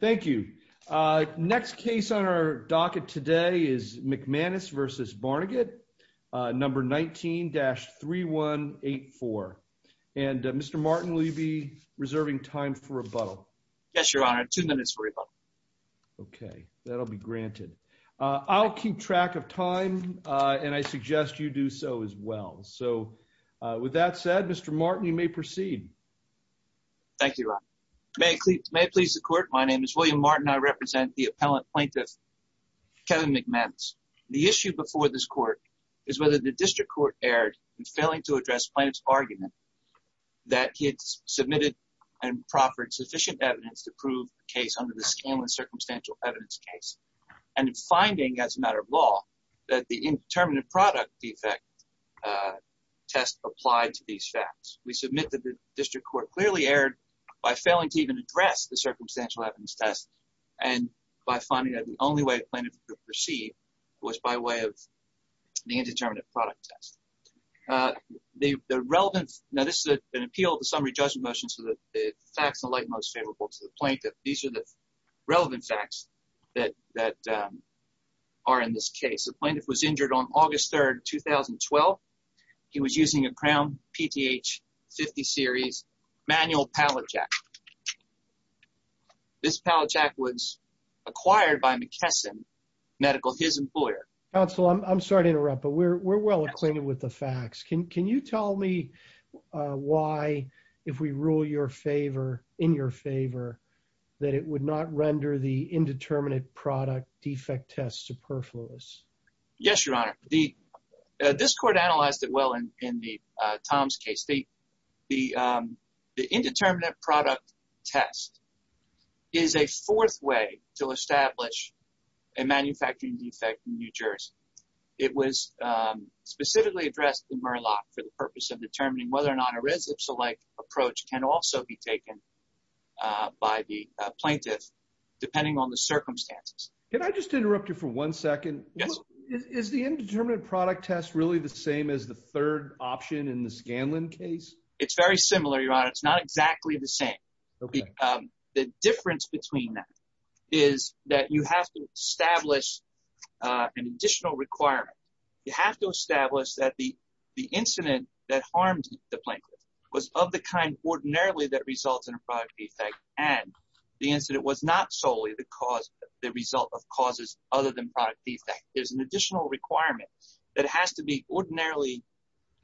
Thank you. Next case on our docket today is McManus v. Barnegat, number 19-3184. And Mr. Martin, will you be reserving time for rebuttal? Yes, Your Honor. Two minutes for rebuttal. Okay, that'll be granted. I'll keep track of time, and I suggest you do so as well. So, with that said, Mr. Martin, you may proceed. Thank you, Your Honor. May it please the Court, my name is William Martin, and I represent the appellant plaintiff Kevin McManus. The issue before this Court is whether the District Court erred in failing to address plaintiff's argument that he had submitted and proffered sufficient evidence to prove the case under the Scanlon Circumstantial Evidence case, and in finding, as a matter of law, that the indeterminate product defect test applied to these facts. We submit that the District Court clearly erred by failing to even address the Circumstantial Evidence test, and by finding that the only way plaintiff could proceed was by way of the indeterminate product test. Now, this is an appeal to summary judgment motion so that the facts in the light are most favorable to the plaintiff. These are the relevant facts that are in this case. The plaintiff was injured on August 3, 2012. He was using a Crown PTH 50 Series manual pallet jack. This pallet jack was acquired by McKesson Medical, his employer. Counsel, I'm sorry to interrupt, but we're well acquainted with the facts. Can you tell me why, if we rule in your favor, that it would not render the indeterminate product defect test superfluous? Yes, Your Honor. The District Court analyzed it well in Tom's case. The indeterminate product test is a fourth way to establish a manufacturing defect in New Jersey. It was specifically addressed in Murlock for the purpose of determining whether or not a res ipsa-like approach can also be taken by the plaintiff, depending on the circumstances. Can I just interrupt you for one second? Yes. Is the indeterminate product test really the same as the third option in the Scanlon case? It's very similar, Your Honor. It's not exactly the same. The difference between them is that you have to establish an additional requirement. You have to establish that the incident that harmed the plaintiff was of the kind ordinarily that results in a product defect, and the incident was not solely the result of causes other than product defect. There's an additional requirement that has to be ordinarily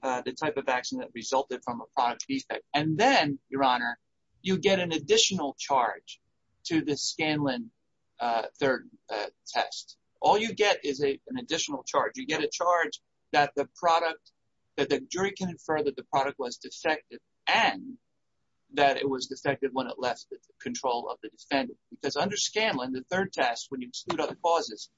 the type of action that resulted from a product defect. And then, Your Honor, you get an additional charge to the Scanlon third test. All you get is an additional charge. You get a charge that the jury can infer that the product was defective and that it was defective when it left the control of the defendant. Because under Scanlon, the third test, when you exclude other causes,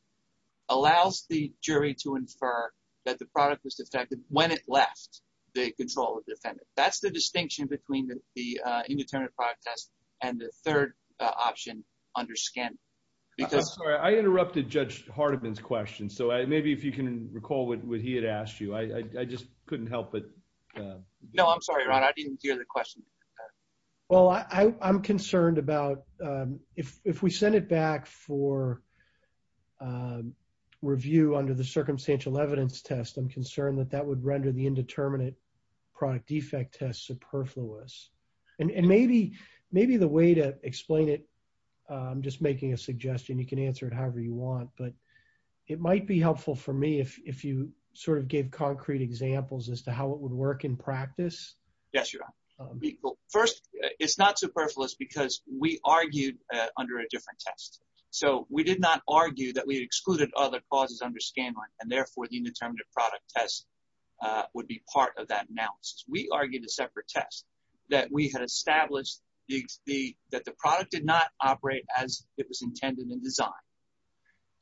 allows the jury to infer that the product was defective when it left the control of the defendant. That's the distinction between the indeterminate product test and the third option under Scanlon. I'm sorry. I interrupted Judge Hardiman's question, so maybe if you can recall what he had asked you. I just couldn't help but – No, I'm sorry, Your Honor. I didn't hear the question. Well, I'm concerned about if we send it back for review under the circumstantial evidence test, I'm concerned that that would render the indeterminate product defect test superfluous. And maybe the way to explain it – I'm just making a suggestion. You can answer it however you want. But it might be helpful for me if you sort of gave concrete examples as to how it would work in practice. Yes, Your Honor. First, it's not superfluous because we argued under a different test. So we did not argue that we excluded other causes under Scanlon, and therefore the indeterminate product test would be part of that analysis. We argued a separate test that we had established that the product did not operate as it was intended in design.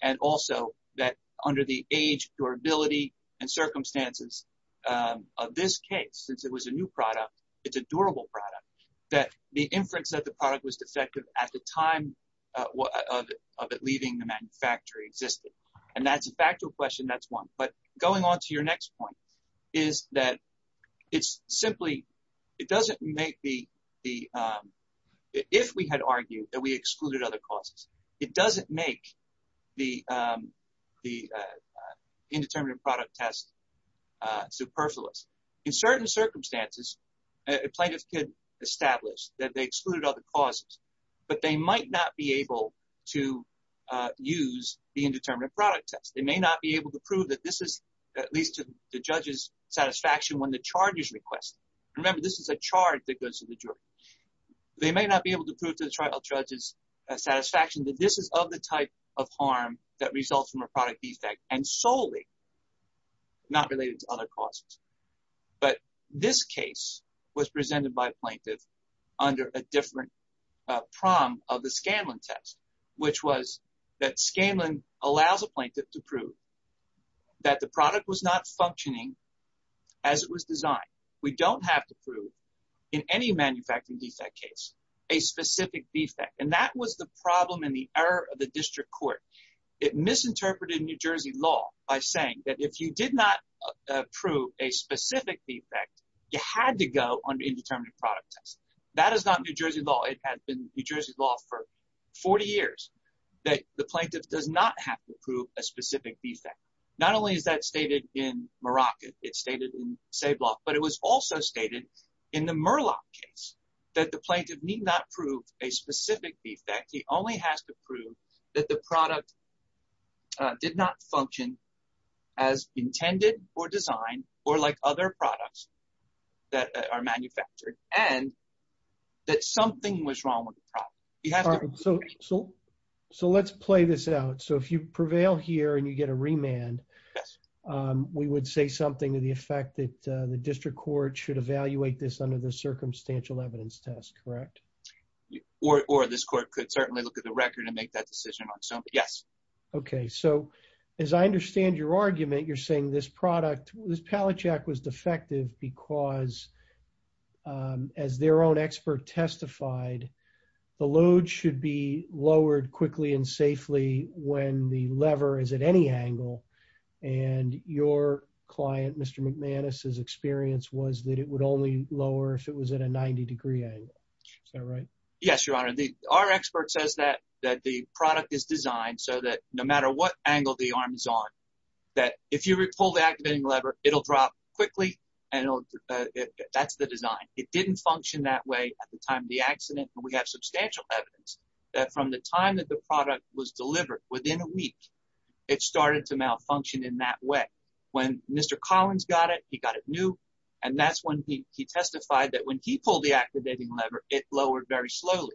And also that under the age, durability, and circumstances of this case, since it was a new product, it's a durable product, that the inference that the product was defective at the time of it leaving the manufacturer existed. And that's a factual question. That's one. But going on to your next point is that it's simply – it doesn't make the – if we had argued that we excluded other causes, it doesn't make the indeterminate product test superfluous. In certain circumstances, a plaintiff could establish that they excluded other causes, but they might not be able to use the indeterminate product test. They may not be able to prove that this is at least to the judge's satisfaction when the charge is requested. Remember, this is a charge that goes to the jury. They may not be able to prove to the judge's satisfaction that this is of the type of harm that results from a product defect and solely not related to other causes. But this case was presented by a plaintiff under a different prom of the Scanlon test, which was that Scanlon allows a plaintiff to prove that the product was not functioning as it was designed. We don't have to prove in any manufacturing defect case a specific defect. And that was the problem in the error of the district court. It misinterpreted New Jersey law by saying that if you did not prove a specific defect, you had to go on the indeterminate product test. That is not New Jersey law. It has been New Jersey law for 40 years that the plaintiff does not have to prove a specific defect. Not only is that stated in Morocco, it's stated in Ceibloch, but it was also stated in the Murlock case that the plaintiff need not prove a specific defect. He only has to prove that the product did not function as intended or designed or like other products that are manufactured and that something was wrong with the product. So let's play this out. So if you prevail here and you get a remand, we would say something to the effect that the district court should evaluate this under the circumstantial evidence test, correct? Or this court could certainly look at the record and make that decision. So, yes. Okay, so as I understand your argument, you're saying this product, this pallet jack was defective because as their own expert testified, the load should be lowered quickly and safely when the lever is at any angle. And your client, Mr. McManus' experience was that it would only lower if it was at a 90 degree angle. Is that right? Yes, Your Honor. Our expert says that the product is designed so that no matter what angle the arm is on, that if you pull the activating lever, it'll drop quickly and that's the design. It didn't function that way at the time of the accident. And we have substantial evidence that from the time that the product was delivered, within a week, it started to malfunction in that way. When Mr. Collins got it, he got it new, and that's when he testified that when he pulled the activating lever, it lowered very slowly.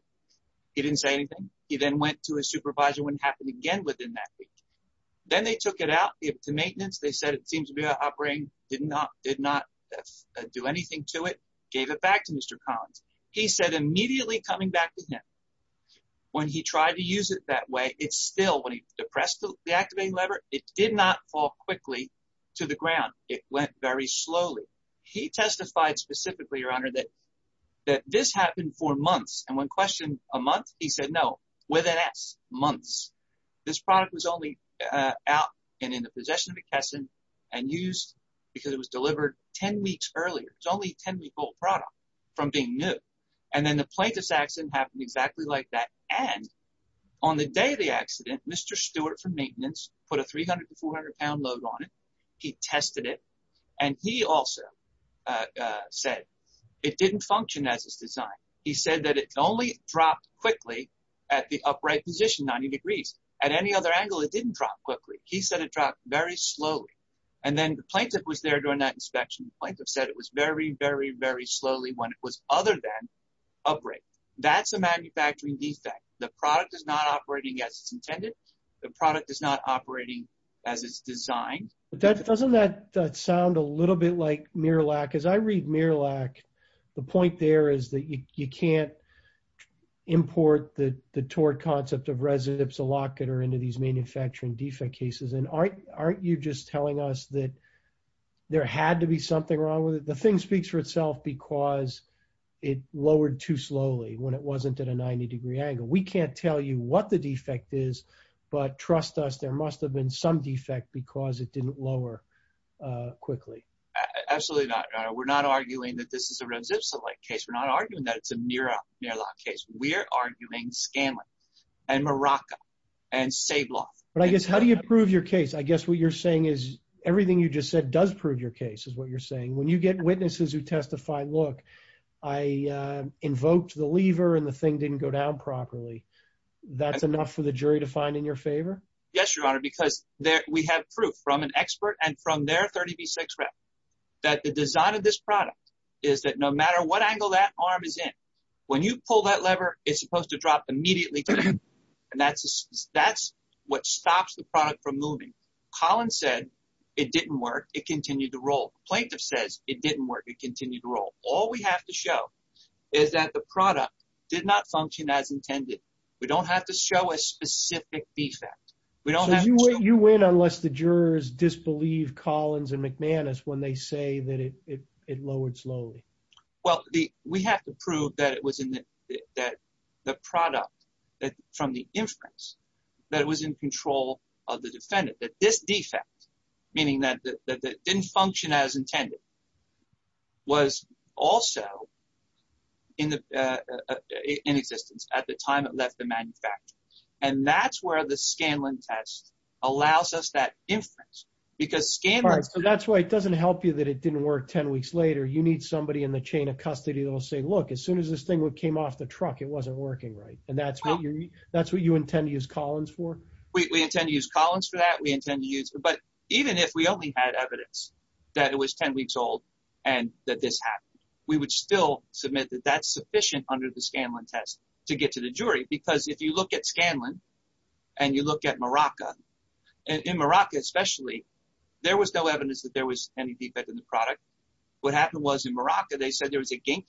He didn't say anything. He then went to his supervisor when it happened again within that week. Then they took it out to maintenance. They said it seems to be operating, did not do anything to it, gave it back to Mr. Collins. He said immediately coming back to him when he tried to use it that way, it still, when he depressed the activating lever, it did not fall quickly to the ground. It went very slowly. He testified specifically, Your Honor, that this happened for months. And when questioned a month, he said no, within months. This product was only out and in the possession of McKesson and used because it was delivered 10 weeks earlier. It's only a 10-week-old product from being new. And then the plaintiff's accident happened exactly like that. And on the day of the accident, Mr. Stewart from maintenance put a 300 to 400-pound load on it. He tested it. And he also said it didn't function as his design. He said that it only dropped quickly at the upright position, 90 degrees. At any other angle, it didn't drop quickly. He said it dropped very slowly. And then the plaintiff was there during that inspection. The plaintiff said it was very, very, very slowly when it was other than upright. That's a manufacturing defect. The product is not operating as it's intended. The product is not operating as it's designed. But doesn't that sound a little bit like MIRLAC? As I read MIRLAC, the point there is that you can't import the torte concept of residive silocator into these manufacturing defect cases. And aren't you just telling us that there had to be something wrong with it? The thing speaks for itself because it lowered too slowly when it wasn't at a 90-degree angle. We can't tell you what the defect is. But trust us, there must have been some defect because it didn't lower quickly. Absolutely not. We're not arguing that this is a residual-like case. We're not arguing that it's a MIRLAC case. We're arguing Scanlon and Morocco and Sabloff. But I guess how do you prove your case? I guess what you're saying is everything you just said does prove your case is what you're saying. When you get witnesses who testify, look, I invoked the lever and the thing didn't go down properly. That's enough for the jury to find in your favor? Yes, Your Honor, because we have proof from an expert and from their 30B6 rep that the design of this product is that no matter what angle that arm is in, when you pull that lever, it's supposed to drop immediately to the end. And that's what stops the product from moving. Collins said it didn't work. It continued to roll. Plaintiff says it didn't work. It continued to roll. All we have to show is that the product did not function as intended. We don't have to show a specific defect. You win unless the jurors disbelieve Collins and McManus when they say that it lowered slowly. We have to prove that the product from the inference, that it was in control of the defendant. That this defect, meaning that it didn't function as intended, was also in existence at the time it left the manufacturer. And that's where the Scanlon test allows us that inference. That's why it doesn't help you that it didn't work 10 weeks later. You need somebody in the chain of custody that will say, look, as soon as this thing came off the truck, it wasn't working right. And that's what you intend to use Collins for? We intend to use Collins for that. But even if we only had evidence that it was 10 weeks old and that this happened, we would still submit that that's sufficient under the Scanlon test to get to the jury. Because if you look at Scanlon and you look at Morocco, in Morocco especially, there was no evidence that there was any defect in the product. What happened was in Morocco, they said there was a gink.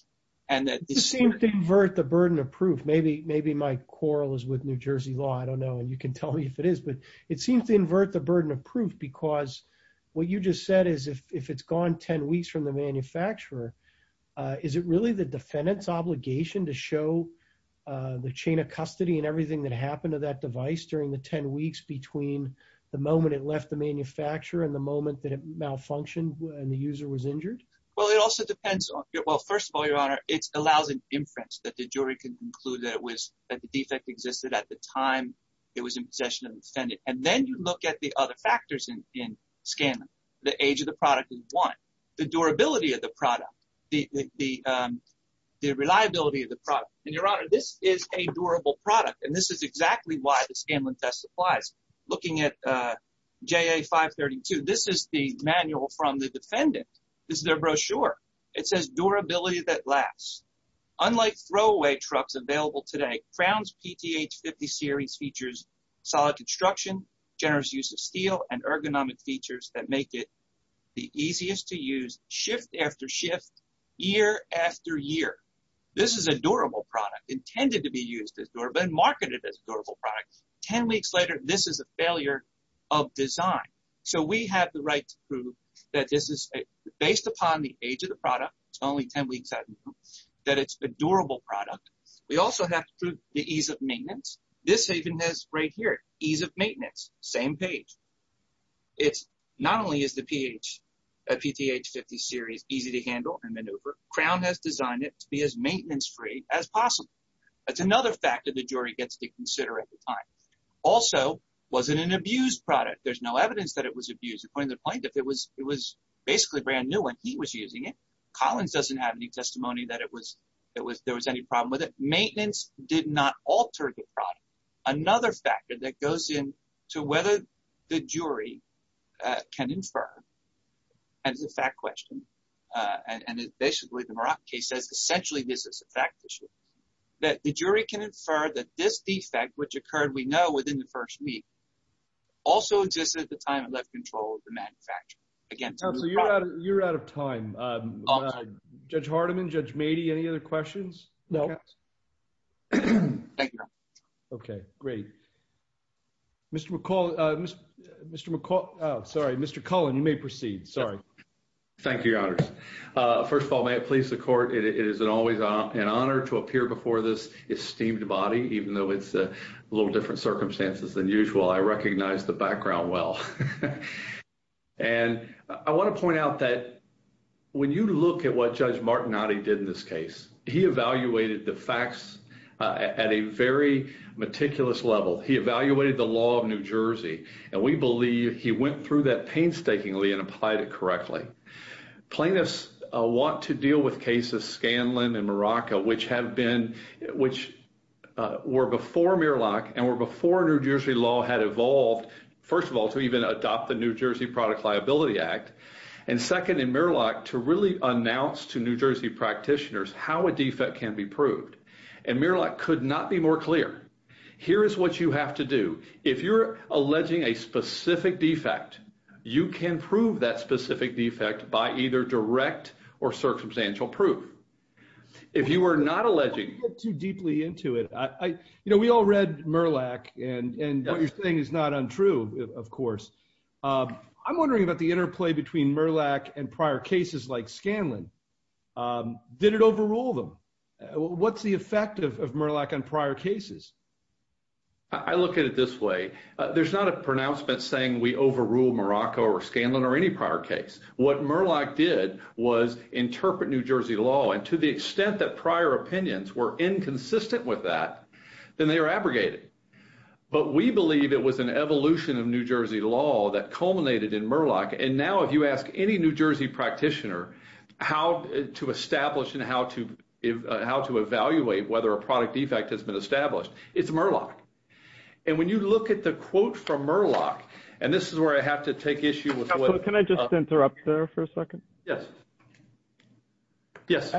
It seemed to invert the burden of proof. Maybe my quarrel is with New Jersey law. I don't know. And you can tell me if it is. But it seems to invert the burden of proof because what you just said is if it's gone 10 weeks from the manufacturer, is it really the defendant's obligation to show the chain of custody and everything that happened to that device during the 10 weeks between the moment it left the manufacturer and the moment that it malfunctioned and the user was injured? Well, first of all, Your Honor, it allows an inference that the jury can conclude that the defect existed at the time it was in possession of the defendant. And then you look at the other factors in Scanlon. The age of the product is one. The durability of the product. The reliability of the product. And, Your Honor, this is a durable product. And this is exactly why the Scanlon test applies. Looking at JA 532, this is the manual from the defendant. This is their brochure. It says durability that lasts. Unlike throwaway trucks available today, Crown's PTH 50 Series features solid construction, generous use of steel, and ergonomic features that make it the easiest to use shift after shift, year after year. This is a durable product intended to be used as durable and marketed as a durable product. Ten weeks later, this is a failure of design. So, we have the right to prove that this is based upon the age of the product. It's only 10 weeks out. That it's a durable product. We also have to prove the ease of maintenance. This even has right here, ease of maintenance. Same page. It's not only is the PTH 50 Series easy to handle and maneuver, Crown has designed it to be as maintenance-free as possible. That's another factor the jury gets to consider at the time. Also, was it an abused product? There's no evidence that it was abused. According to the plaintiff, it was basically brand new when he was using it. Collins doesn't have any testimony that there was any problem with it. Maintenance did not alter the product. Another factor that goes in to whether the jury can infer. And it's a fact question. And basically, the Murak case says, essentially, this is a fact issue. That the jury can infer that this defect, which occurred, we know, within the first week, also existed at the time it left control of the manufacturer. You're out of time. Judge Hardiman, Judge Mady, any other questions? No. Thank you, Your Honor. Okay, great. Mr. McCall, sorry, Mr. Cullen, you may proceed. Sorry. Thank you, Your Honors. First of all, may it please the court, it is always an honor to appear before this esteemed body, even though it's a little different circumstances than usual. I recognize the background well. And I want to point out that when you look at what Judge Mady did in this case, he evaluated the facts at a very meticulous level. He evaluated the law of New Jersey. And we believe he went through that painstakingly and applied it correctly. Plaintiffs want to deal with cases, Scanlon and Muraka, which have been, which were before Murlock and were before New Jersey law had evolved, first of all, to even adopt the New Jersey Product Liability Act. And second, in Murlock, to really announce to New Jersey practitioners how a defect can be proved. And Murlock could not be more clear. Here is what you have to do. If you're alleging a specific defect, you can prove that specific defect by either direct or circumstantial proof. If you are not alleging. I don't want to get too deeply into it. You know, we all read Murlock, and what you're saying is not untrue, of course. I'm wondering about the interplay between Murlock and prior cases like Scanlon. Did it overrule them? What's the effect of Murlock on prior cases? I look at it this way. There's not a pronouncement saying we overrule Muraka or Scanlon or any prior case. What Murlock did was interpret New Jersey law, and to the extent that prior opinions were inconsistent with that, then they were abrogated. But we believe it was an evolution of New Jersey law that culminated in Murlock. And now if you ask any New Jersey practitioner how to establish and how to evaluate whether a product defect has been established, it's Murlock. And when you look at the quote from Murlock, and this is where I have to take issue with what — Can I just interrupt there for a second? Yes. Yes.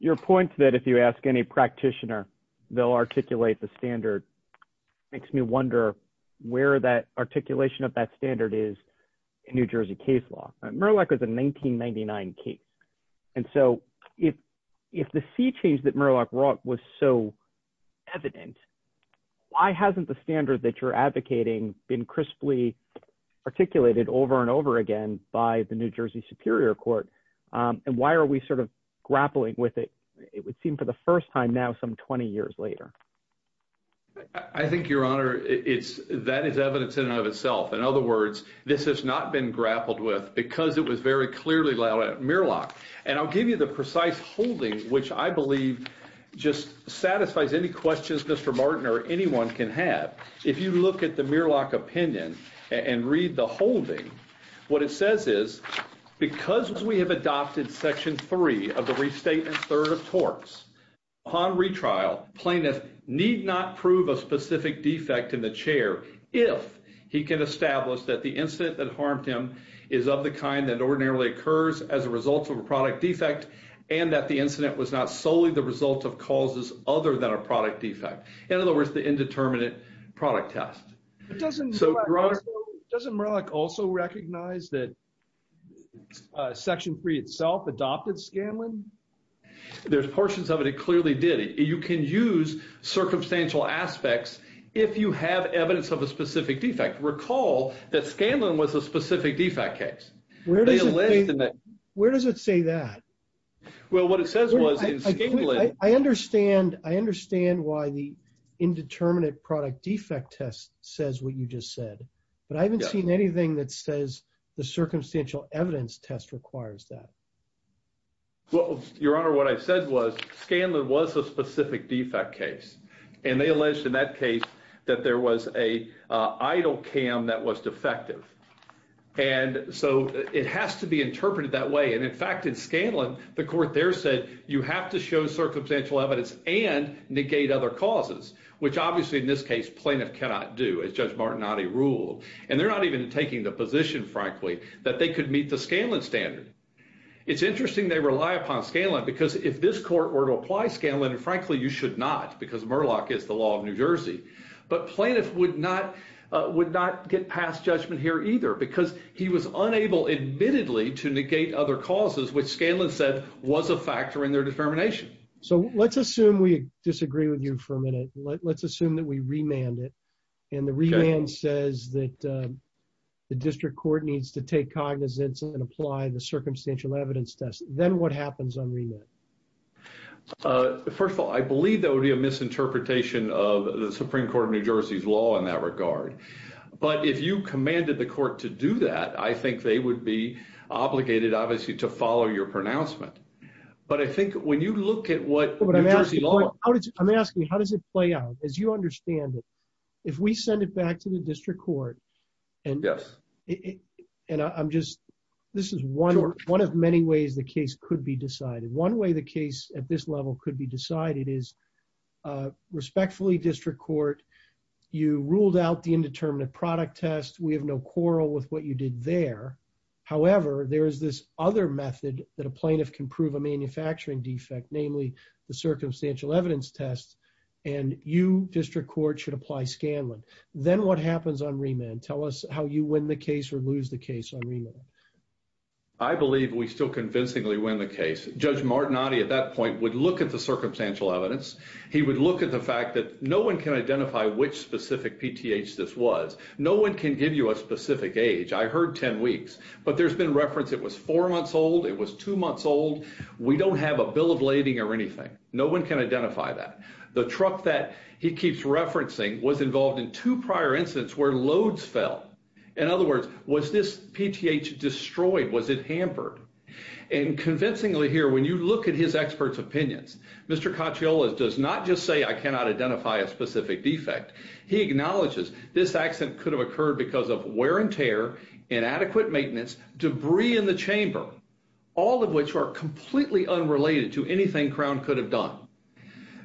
Your point that if you ask any practitioner, they'll articulate the standard makes me wonder where that articulation of that standard is in New Jersey case law. Murlock was a 1999 case. And so if the sea change that Murlock brought was so evident, why hasn't the standard that you're advocating been crisply articulated over and over again by the New Jersey Superior Court? And why are we sort of grappling with it? It would seem for the first time now some 20 years later. I think, Your Honor, that is evidence in and of itself. In other words, this has not been grappled with because it was very clearly laid out at Murlock. And I'll give you the precise holding, which I believe just satisfies any questions Mr. Martin or anyone can have. If you look at the Murlock opinion and read the holding, what it says is, because we have adopted Section 3 of the Restatement Third of Torts, upon retrial, plaintiff need not prove a specific defect in the chair if he can establish that the incident that harmed him is of the kind that ordinarily occurs as a result of a product defect and that the incident was not solely the result of causes other than a product defect. In other words, the indeterminate product test. Doesn't Murlock also recognize that Section 3 itself adopted Scanlon? There's portions of it. It clearly did. You can use circumstantial aspects if you have evidence of a specific defect. Recall that Scanlon was a specific defect case. Where does it say that? Well, what it says was in Scanlon… I understand. I understand why the indeterminate product defect test says what you just said. But I haven't seen anything that says the circumstantial evidence test requires that. Well, Your Honor, what I said was Scanlon was a specific defect case. And they alleged in that case that there was a idle cam that was defective. And so it has to be interpreted that way. And, in fact, in Scanlon, the court there said you have to show circumstantial evidence and negate other causes, which obviously in this case plaintiff cannot do, as Judge Martinotti ruled. And they're not even taking the position, frankly, that they could meet the Scanlon standard. It's interesting they rely upon Scanlon because if this court were to apply Scanlon, and, frankly, you should not because Murlock is the law of New Jersey. But plaintiff would not get past judgment here either because he was unable admittedly to negate other causes, which Scanlon said was a factor in their determination. So let's assume we disagree with you for a minute. Let's assume that we remand it. And the remand says that the district court needs to take cognizance and apply the circumstantial evidence test. Then what happens on remand? First of all, I believe that would be a misinterpretation of the Supreme Court of New Jersey's law in that regard. But if you commanded the court to do that, I think they would be obligated, obviously, to follow your pronouncement. But I think when you look at what New Jersey law… I'm asking you, how does it play out? As you understand it, if we send it back to the district court… Yes. This is one of many ways the case could be decided. One way the case at this level could be decided is, respectfully, district court, you ruled out the indeterminate product test. We have no quarrel with what you did there. However, there is this other method that a plaintiff can prove a manufacturing defect, namely the circumstantial evidence test. And you, district court, should apply Scanlon. Then what happens on remand? Tell us how you win the case or lose the case on remand. I believe we still convincingly win the case. Judge Martinotti, at that point, would look at the circumstantial evidence. He would look at the fact that no one can identify which specific PTH this was. No one can give you a specific age. I heard 10 weeks, but there's been reference it was four months old, it was two months old. We don't have a bill of lading or anything. No one can identify that. The truck that he keeps referencing was involved in two prior incidents where loads fell. In other words, was this PTH destroyed? Was it hampered? And convincingly here, when you look at his expert's opinions, Mr. Cacciola does not just say I cannot identify a specific defect. He acknowledges this accident could have occurred because of wear and tear, inadequate maintenance, debris in the chamber, all of which are completely unrelated to anything Crown could have done.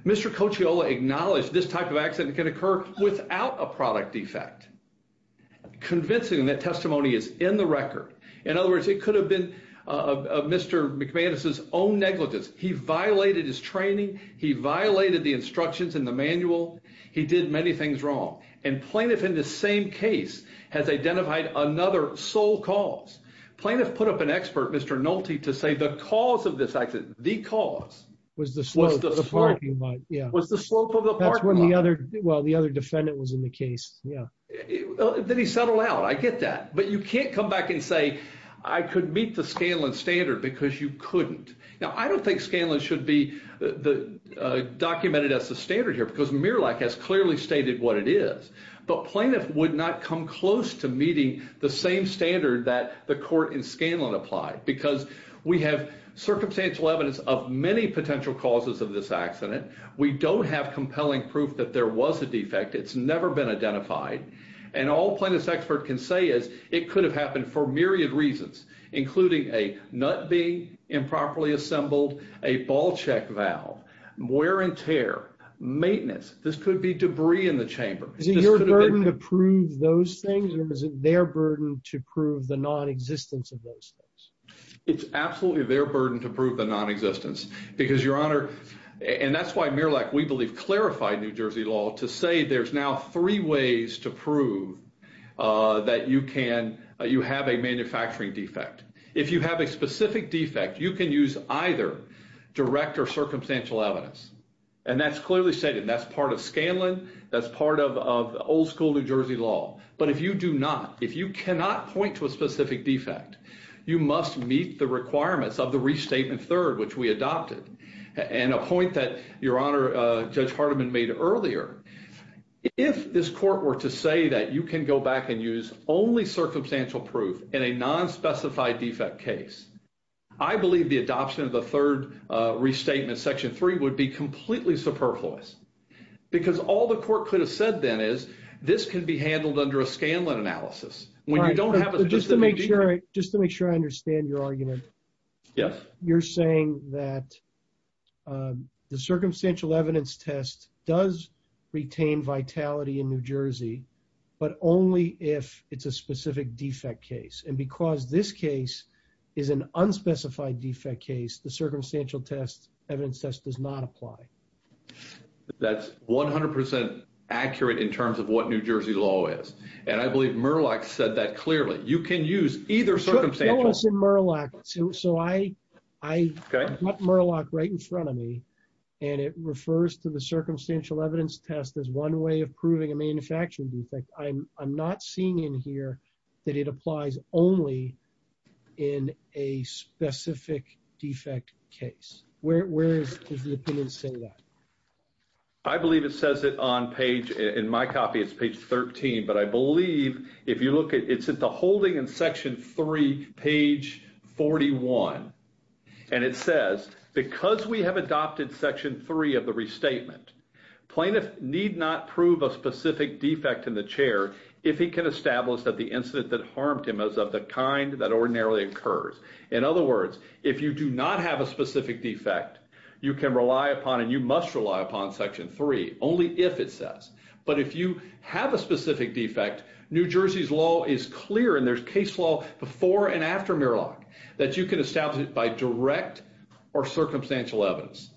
Mr. Cacciola acknowledged this type of accident can occur without a product defect, convincing that testimony is in the record. In other words, it could have been Mr. McManus's own negligence. He violated his training. He violated the instructions in the manual. He did many things wrong. And plaintiff in the same case has identified another sole cause. Plaintiff put up an expert, Mr. Nolte, to say the cause of this accident, the cause. Was the slope of the parking lot. Was the slope of the parking lot. Well, the other defendant was in the case. Then he settled out. I get that. But you can't come back and say I could meet the Scanlon standard because you couldn't. Now, I don't think Scanlon should be documented as the standard here because Murlock has clearly stated what it is. But plaintiff would not come close to meeting the same standard that the court in Scanlon applied. Because we have circumstantial evidence of many potential causes of this accident. We don't have compelling proof that there was a defect. It's never been identified. And all plaintiff's expert can say is it could have happened for myriad reasons, including a nut being improperly assembled, a ball check valve, wear and tear, maintenance. This could be debris in the chamber. Is it your burden to prove those things or is it their burden to prove the non-existence of those things? It's absolutely their burden to prove the non-existence. Because, Your Honor, and that's why Murlock, we believe, clarified New Jersey law to say there's now three ways to prove that you have a manufacturing defect. If you have a specific defect, you can use either direct or circumstantial evidence. And that's clearly stated. That's part of Scanlon. That's part of old school New Jersey law. But if you do not, if you cannot point to a specific defect, you must meet the requirements of the Restatement Third, which we adopted. And a point that, Your Honor, Judge Hardiman made earlier, if this court were to say that you can go back and use only circumstantial proof in a nonspecified defect case, I believe the adoption of the Third Restatement, Section 3, would be completely superfluous. Because all the court could have said then is, this can be handled under a Scanlon analysis. When you don't have... Just to make sure I understand your argument. Yes. You're saying that the circumstantial evidence test does retain vitality in New Jersey, but only if it's a specific defect case. And because this case is an unspecified defect case, the circumstantial test, evidence test, does not apply. That's 100% accurate in terms of what New Jersey law is. And I believe Murlock said that clearly. You can use either circumstantial... Show us in Murlock. So I have Murlock right in front of me. And it refers to the circumstantial evidence test as one way of proving a manufacturing defect. I'm not seeing in here that it applies only in a specific defect case. Where does the defendant say that? I believe it says it on page... In my copy, it's page 13. But I believe, if you look at... It's at the holding in Section 3, page 41. And it says, because we have adopted Section 3 of the restatement, plaintiff need not prove a specific defect in the chair if he can establish that the incident that harmed him is of the kind that ordinarily occurs. In other words, if you do not have a specific defect, you can rely upon and you must rely upon Section 3, only if it says. But if you have a specific defect, New Jersey's law is clear and there's case law before and after Murlock that you can establish it by direct or circumstantial evidence.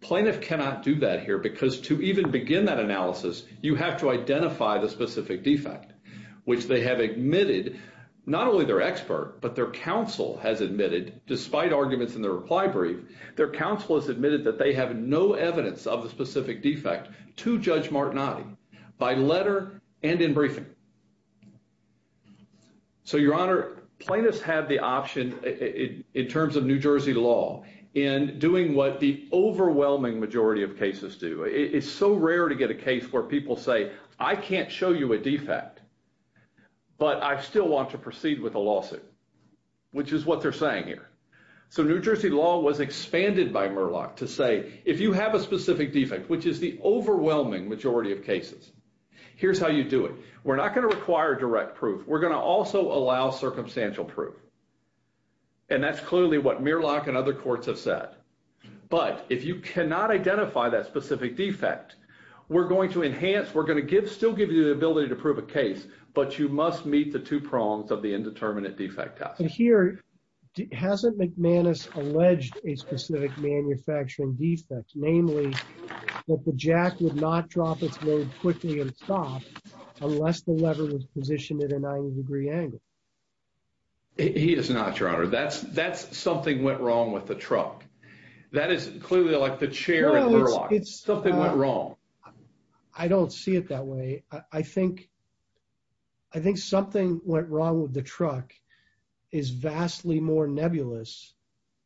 Plaintiff cannot do that here because to even begin that analysis, you have to identify the specific defect. Which they have admitted, not only their expert, but their counsel has admitted, despite arguments in the reply brief, their counsel has admitted that they have no evidence of the specific defect to Judge Martinotti by letter and in briefing. So, Your Honor, plaintiffs have the option, in terms of New Jersey law, in doing what the overwhelming majority of cases do. It's so rare to get a case where people say, I can't show you a defect, but I still want to proceed with a lawsuit, which is what they're saying here. So New Jersey law was expanded by Murlock to say, if you have a specific defect, which is the overwhelming majority of cases, here's how you do it. We're not going to require direct proof. We're going to also allow circumstantial proof. And that's clearly what Murlock and other courts have said. But if you cannot identify that specific defect, we're going to enhance, we're going to still give you the ability to prove a case, but you must meet the two prongs of the indeterminate defect test. But here, hasn't McManus alleged a specific manufacturing defect, namely that the jack would not drop its load quickly and stop unless the lever was positioned at a 90 degree angle? Remember, that's something went wrong with the truck. That is clearly like the chair in Murlock. Something went wrong. I don't see it that way. I think something went wrong with the truck is vastly more nebulous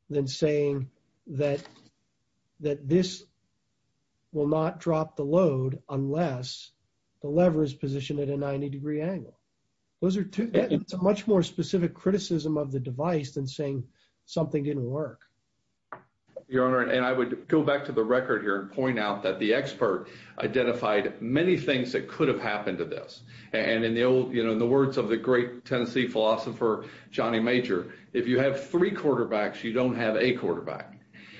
than saying that this will not drop the load unless the lever is positioned at a 90 degree angle. It's a much more specific criticism of the device than saying something didn't work. Your Honor, and I would go back to the record here and point out that the expert identified many things that could have happened to this. And in the words of the great Tennessee philosopher, Johnny Major, if you have three quarterbacks, you don't have a quarterback.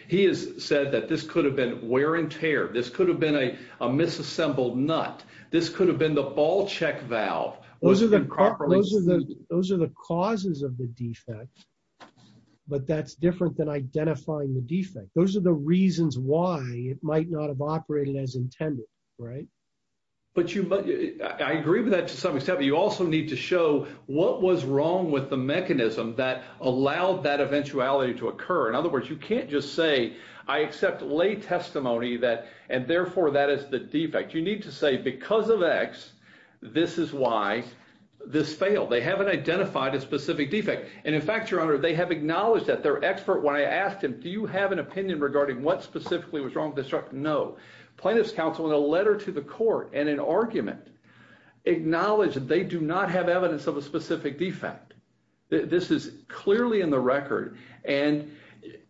He has said that this could have been wear and tear. This could have been a misassembled nut. This could have been the ball check valve. Those are the causes of the defect. But that's different than identifying the defect. Those are the reasons why it might not have operated as intended, right? But I agree with that to some extent. But you also need to show what was wrong with the mechanism that allowed that eventuality to occur. In other words, you can't just say I accept lay testimony and therefore that is the defect. You need to say because of X, this is why this failed. They haven't identified a specific defect. And, in fact, Your Honor, they have acknowledged that. Their expert, when I asked him, do you have an opinion regarding what specifically was wrong with this truck, no. Plaintiff's counsel in a letter to the court and an argument acknowledged that they do not have evidence of a specific defect. This is clearly in the record. And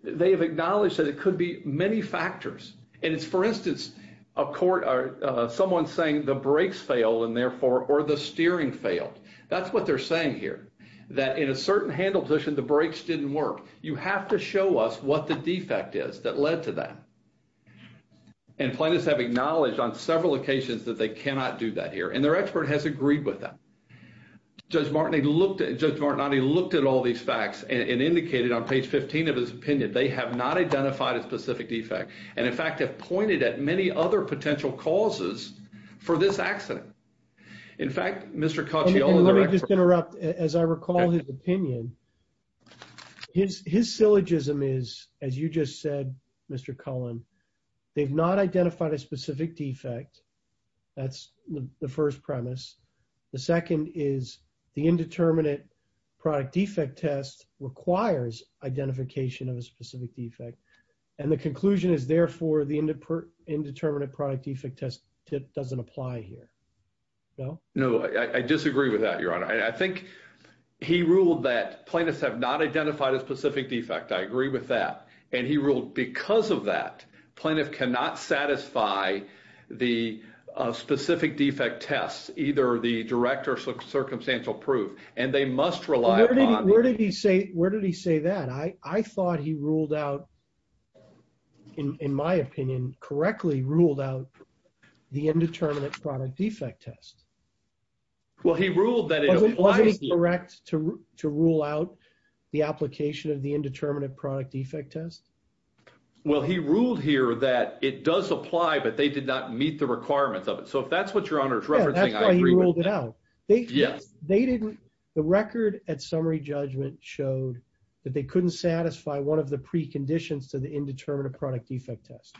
they have acknowledged that it could be many factors. And it's, for instance, a court or someone saying the brakes failed and therefore or the steering failed. That's what they're saying here. That in a certain handle position, the brakes didn't work. You have to show us what the defect is that led to that. And plaintiffs have acknowledged on several occasions that they cannot do that here. And their expert has agreed with that. Judge Martin looked at all these facts and indicated on page 15 of his opinion they have not identified a specific defect. And, in fact, have pointed at many other potential causes for this accident. In fact, Mr. Cacciolo. Let me just interrupt. As I recall his opinion, his syllogism is, as you just said, Mr. Cullen, they've not identified a specific defect. That's the first premise. The second is the indeterminate product defect test requires identification of a specific defect. And the conclusion is, therefore, the indeterminate product defect test doesn't apply here. No? No, I disagree with that, Your Honor. I think he ruled that plaintiffs have not identified a specific defect. I agree with that. And he ruled because of that, plaintiff cannot satisfy the specific defect test, either the direct or circumstantial proof. And they must rely upon the ‑‑ Where did he say that? I thought he ruled out, in my opinion, correctly ruled out the indeterminate product defect test. Well, he ruled that it applies here. Wasn't he correct to rule out the application of the indeterminate product defect test? Well, he ruled here that it does apply, but they did not meet the requirements of it. So, if that's what Your Honor is referencing, I agree with that. Yeah, that's why he ruled it out. Yes. The record at summary judgment showed that they couldn't satisfy one of the preconditions to the indeterminate product defect test.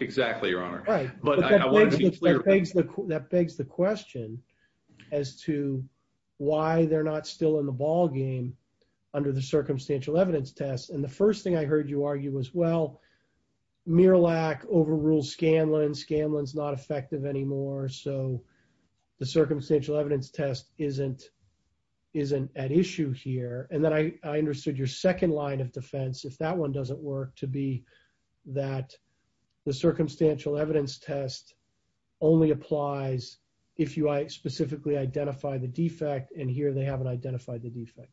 Exactly, Your Honor. Right. But that begs the question as to why they're not still in the ballgame under the circumstantial evidence test. And the first thing I heard you argue was, well, Miralak overruled Scanlon, Scanlon's not effective anymore. So, the circumstantial evidence test isn't at issue here. And then I understood your second line of defense, if that one doesn't work, to be that the circumstantial evidence test only applies if you specifically identify the defect, and here they haven't identified the defect.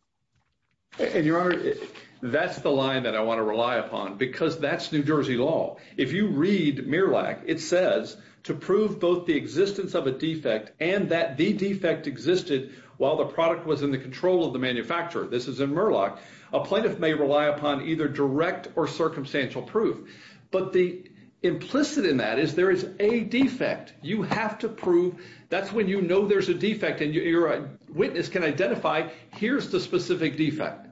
And, Your Honor, that's the line that I want to rely upon, because that's New Jersey law. If you read Miralak, it says, to prove both the existence of a defect and that the defect existed while the product was in the control of the manufacturer. This is in Miralak. A plaintiff may rely upon either direct or circumstantial proof. But the implicit in that is there is a defect. You have to prove. That's when you know there's a defect, and your witness can identify, here's the specific defect.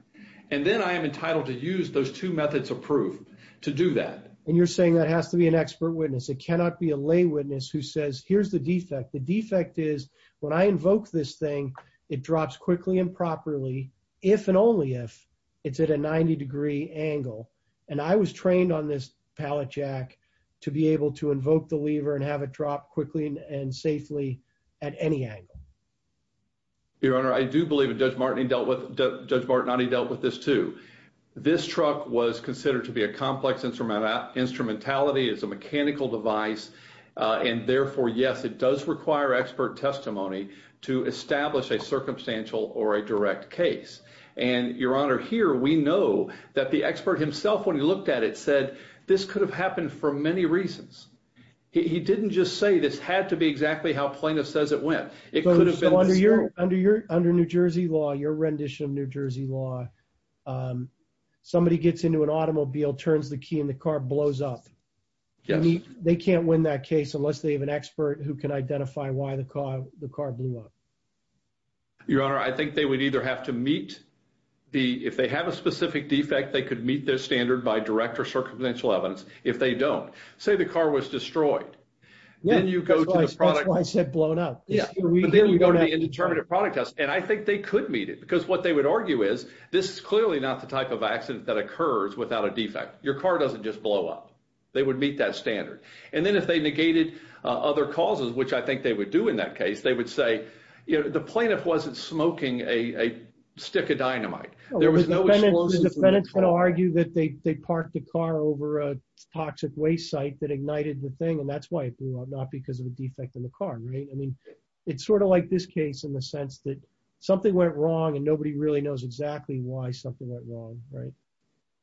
And then I am entitled to use those two methods of proof to do that. And you're saying that has to be an expert witness. It cannot be a lay witness who says, here's the defect. The defect is, when I invoke this thing, it drops quickly and properly, if and only if it's at a 90-degree angle. And I was trained on this pallet jack to be able to invoke the lever and have it drop quickly and safely at any angle. Your Honor, I do believe that Judge Martini dealt with this, too. This truck was considered to be a complex instrumentality. It's a mechanical device. And, therefore, yes, it does require expert testimony to establish a circumstantial or a direct case. And, Your Honor, here we know that the expert himself, when he looked at it, said this could have happened for many reasons. He didn't just say this had to be exactly how plaintiff says it went. So under New Jersey law, your rendition of New Jersey law, somebody gets into an automobile, turns the key, and the car blows up. They can't win that case unless they have an expert who can identify why the car blew up. Your Honor, I think they would either have to meet the – if they have a specific defect, they could meet their standard by direct or circumstantial evidence. If they don't, say the car was destroyed. That's why I said blown up. But then you go to the indeterminate product test. And I think they could meet it because what they would argue is this is clearly not the type of accident that occurs without a defect. Your car doesn't just blow up. They would meet that standard. And then if they negated other causes, which I think they would do in that case, they would say the plaintiff wasn't smoking a stick of dynamite. The defendant's going to argue that they parked the car over a toxic waste site that ignited the thing, and that's why it blew up, not because of a defect in the car. I mean, it's sort of like this case in the sense that something went wrong, and nobody really knows exactly why something went wrong.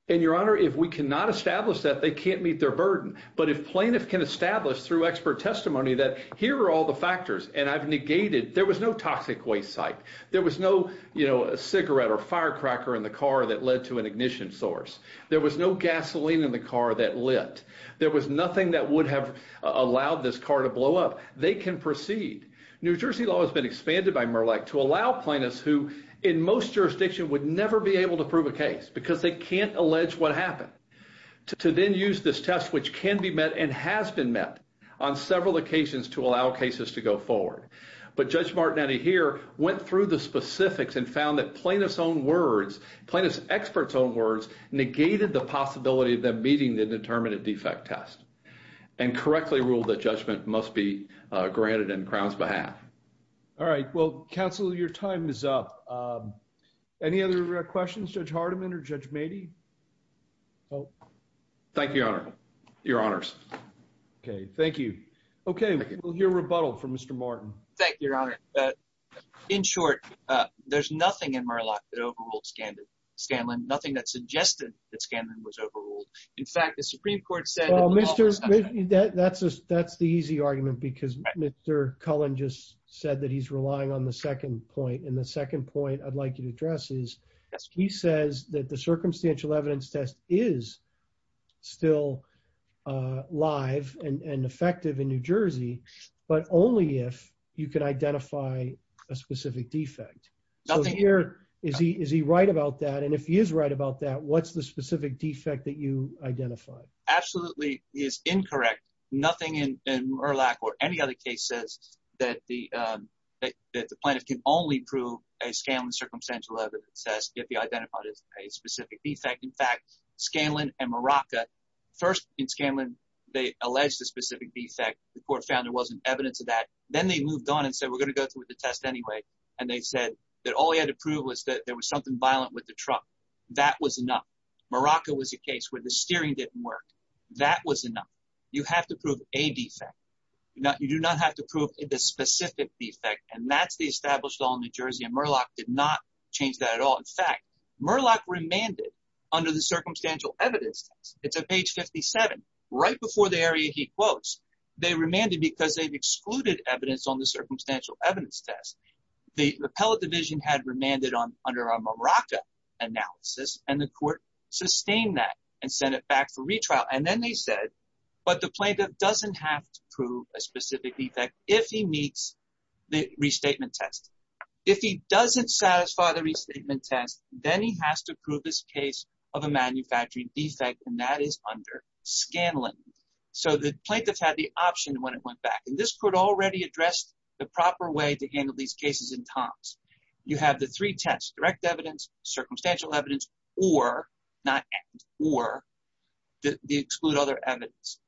And, Your Honor, if we cannot establish that, they can't meet their burden. But if plaintiffs can establish through expert testimony that here are all the factors, and I've negated – there was no toxic waste site. There was no, you know, cigarette or firecracker in the car that led to an ignition source. There was no gasoline in the car that lit. There was nothing that would have allowed this car to blow up. They can proceed. New Jersey law has been expanded by Murlock to allow plaintiffs who, in most jurisdictions, would never be able to prove a case because they can't allege what happened, to then use this test, which can be met and has been met on several occasions to allow cases to go forward. But Judge Martin, out of here, went through the specifics and found that plaintiffs' own words, plaintiffs' experts' own words, negated the possibility of them meeting the determinant defect test and correctly ruled that judgment must be granted in Crown's behalf. All right. Well, counsel, your time is up. Any other questions, Judge Hardiman or Judge Mady? Thank you, Your Honor. Your honors. Okay. Thank you. Okay. We'll hear rebuttal from Mr. Martin. Thank you, Your Honor. In short, there's nothing in Murlock that overruled Scanlon, nothing that suggested that Scanlon was overruled. Well, that's the easy argument because Mr. Cullen just said that he's relying on the second point, and the second point I'd like you to address is he says that the circumstantial evidence test is still live and effective in New Jersey, but only if you can identify a specific defect. So here, is he right about that? And if he is right about that, what's the specific defect that you identified? Absolutely is incorrect. Nothing in Murlock or any other case says that the plaintiff can only prove a Scanlon circumstantial evidence test if he identified a specific defect. In fact, Scanlon and Maraca, first in Scanlon, they alleged a specific defect. The court found there wasn't evidence of that. Then they moved on and said, we're going to go through with the test anyway. And they said that all he had to prove was that there was something violent with the truck. That was enough. Maraca was a case where the steering didn't work. That was enough. You have to prove a defect. You do not have to prove the specific defect. And Murlock did not change that at all. In fact, Murlock remanded under the circumstantial evidence test. It's at page 57, right before the area he quotes. They remanded because they've excluded evidence on the circumstantial evidence test. The appellate division had remanded under a Maraca analysis, and the court sustained that and sent it back for retrial. And then they said, but the plaintiff doesn't have to prove a specific defect if he meets the restatement test. If he doesn't satisfy the restatement test, then he has to prove his case of a manufacturing defect, and that is under Scanlon. So the plaintiff had the option when it went back. And this court already addressed the proper way to handle these cases in Tom's. You have the three tests, direct evidence, circumstantial evidence, or not, or they exclude other evidence.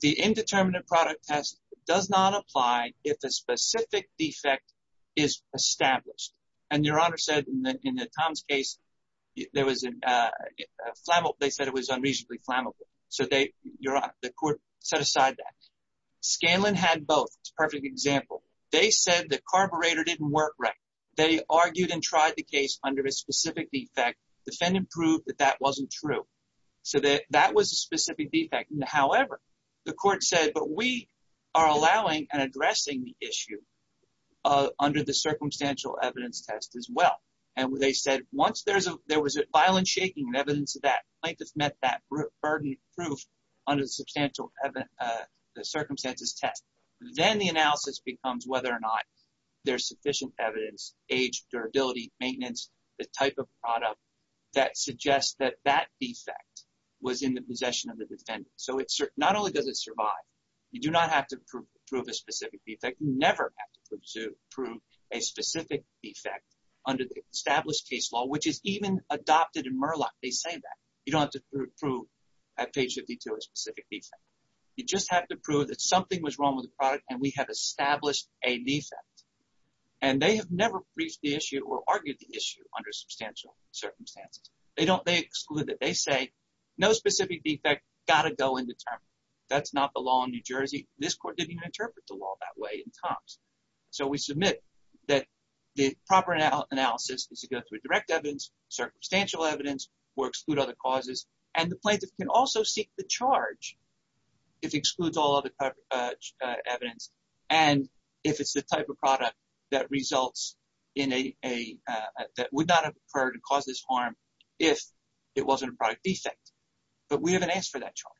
The indeterminate product test does not apply if a specific defect is established. And Your Honor said in the Tom's case, there was a flammable, they said it was unreasonably flammable. So they, Your Honor, the court set aside that. Scanlon had both. It's a perfect example. They said the carburetor didn't work right. They argued and tried the case under a specific defect. Defendant proved that that wasn't true. So that was a specific defect. However, the court said, but we are allowing and addressing the issue under the circumstantial evidence test as well. And they said once there was a violent shaking and evidence of that, plaintiff met that burden of proof under the circumstantial evidence test. Then the analysis becomes whether or not there's sufficient evidence, age, durability, maintenance, the type of product that suggests that that defect was in the possession of the defendant. So it's not only does it survive. You do not have to prove a specific defect. You never have to prove a specific defect under the established case law, which is even adopted in Murlock. They say that you don't have to prove at page 52 a specific defect. You just have to prove that something was wrong with the product and we have established a defect. And they have never briefed the issue or argued the issue under substantial circumstances. They don't exclude that. They say no specific defect. Got to go into term. That's not the law in New Jersey. This court didn't even interpret the law that way in Tom's. So we submit that the proper analysis is to go through direct evidence, circumstantial evidence, or exclude other causes. And the plaintiff can also seek the charge if excludes all other evidence. And if it's the type of product that results in a that would not have occurred to cause this harm if it wasn't a product defect. But we haven't asked for that charge.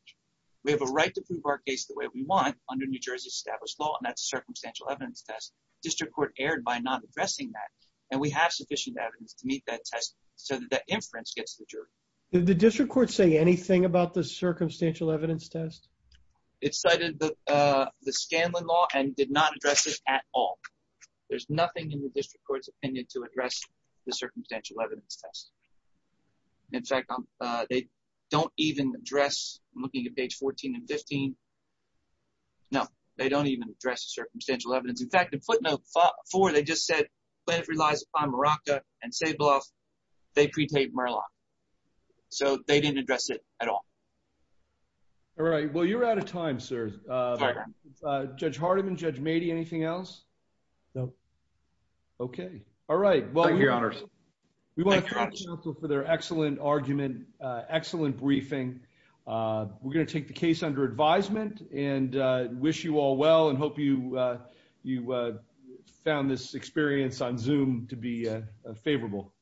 We have a right to prove our case the way we want under New Jersey's established law. And that's a circumstantial evidence test. District Court erred by not addressing that. And we have sufficient evidence to meet that test so that inference gets the jury. Did the district court say anything about the circumstantial evidence test? It cited the Scanlon law and did not address it at all. There's nothing in the district court's opinion to address the circumstantial evidence test. In fact, they don't even address, I'm looking at page 14 and 15. No, they don't even address the circumstantial evidence. In fact, in footnote four, they just said the plaintiff relies upon Maraca and Sabloff. They pre-paid Murlock. So they didn't address it at all. All right. Well, you're out of time, sir. Judge Hardiman, Judge Mady, anything else? No. Okay. All right. Thank you, Your Honors. We want to thank the counsel for their excellent argument, excellent briefing. We're going to take the case under advisement and wish you all well and hope you found this experience on Zoom to be favorable.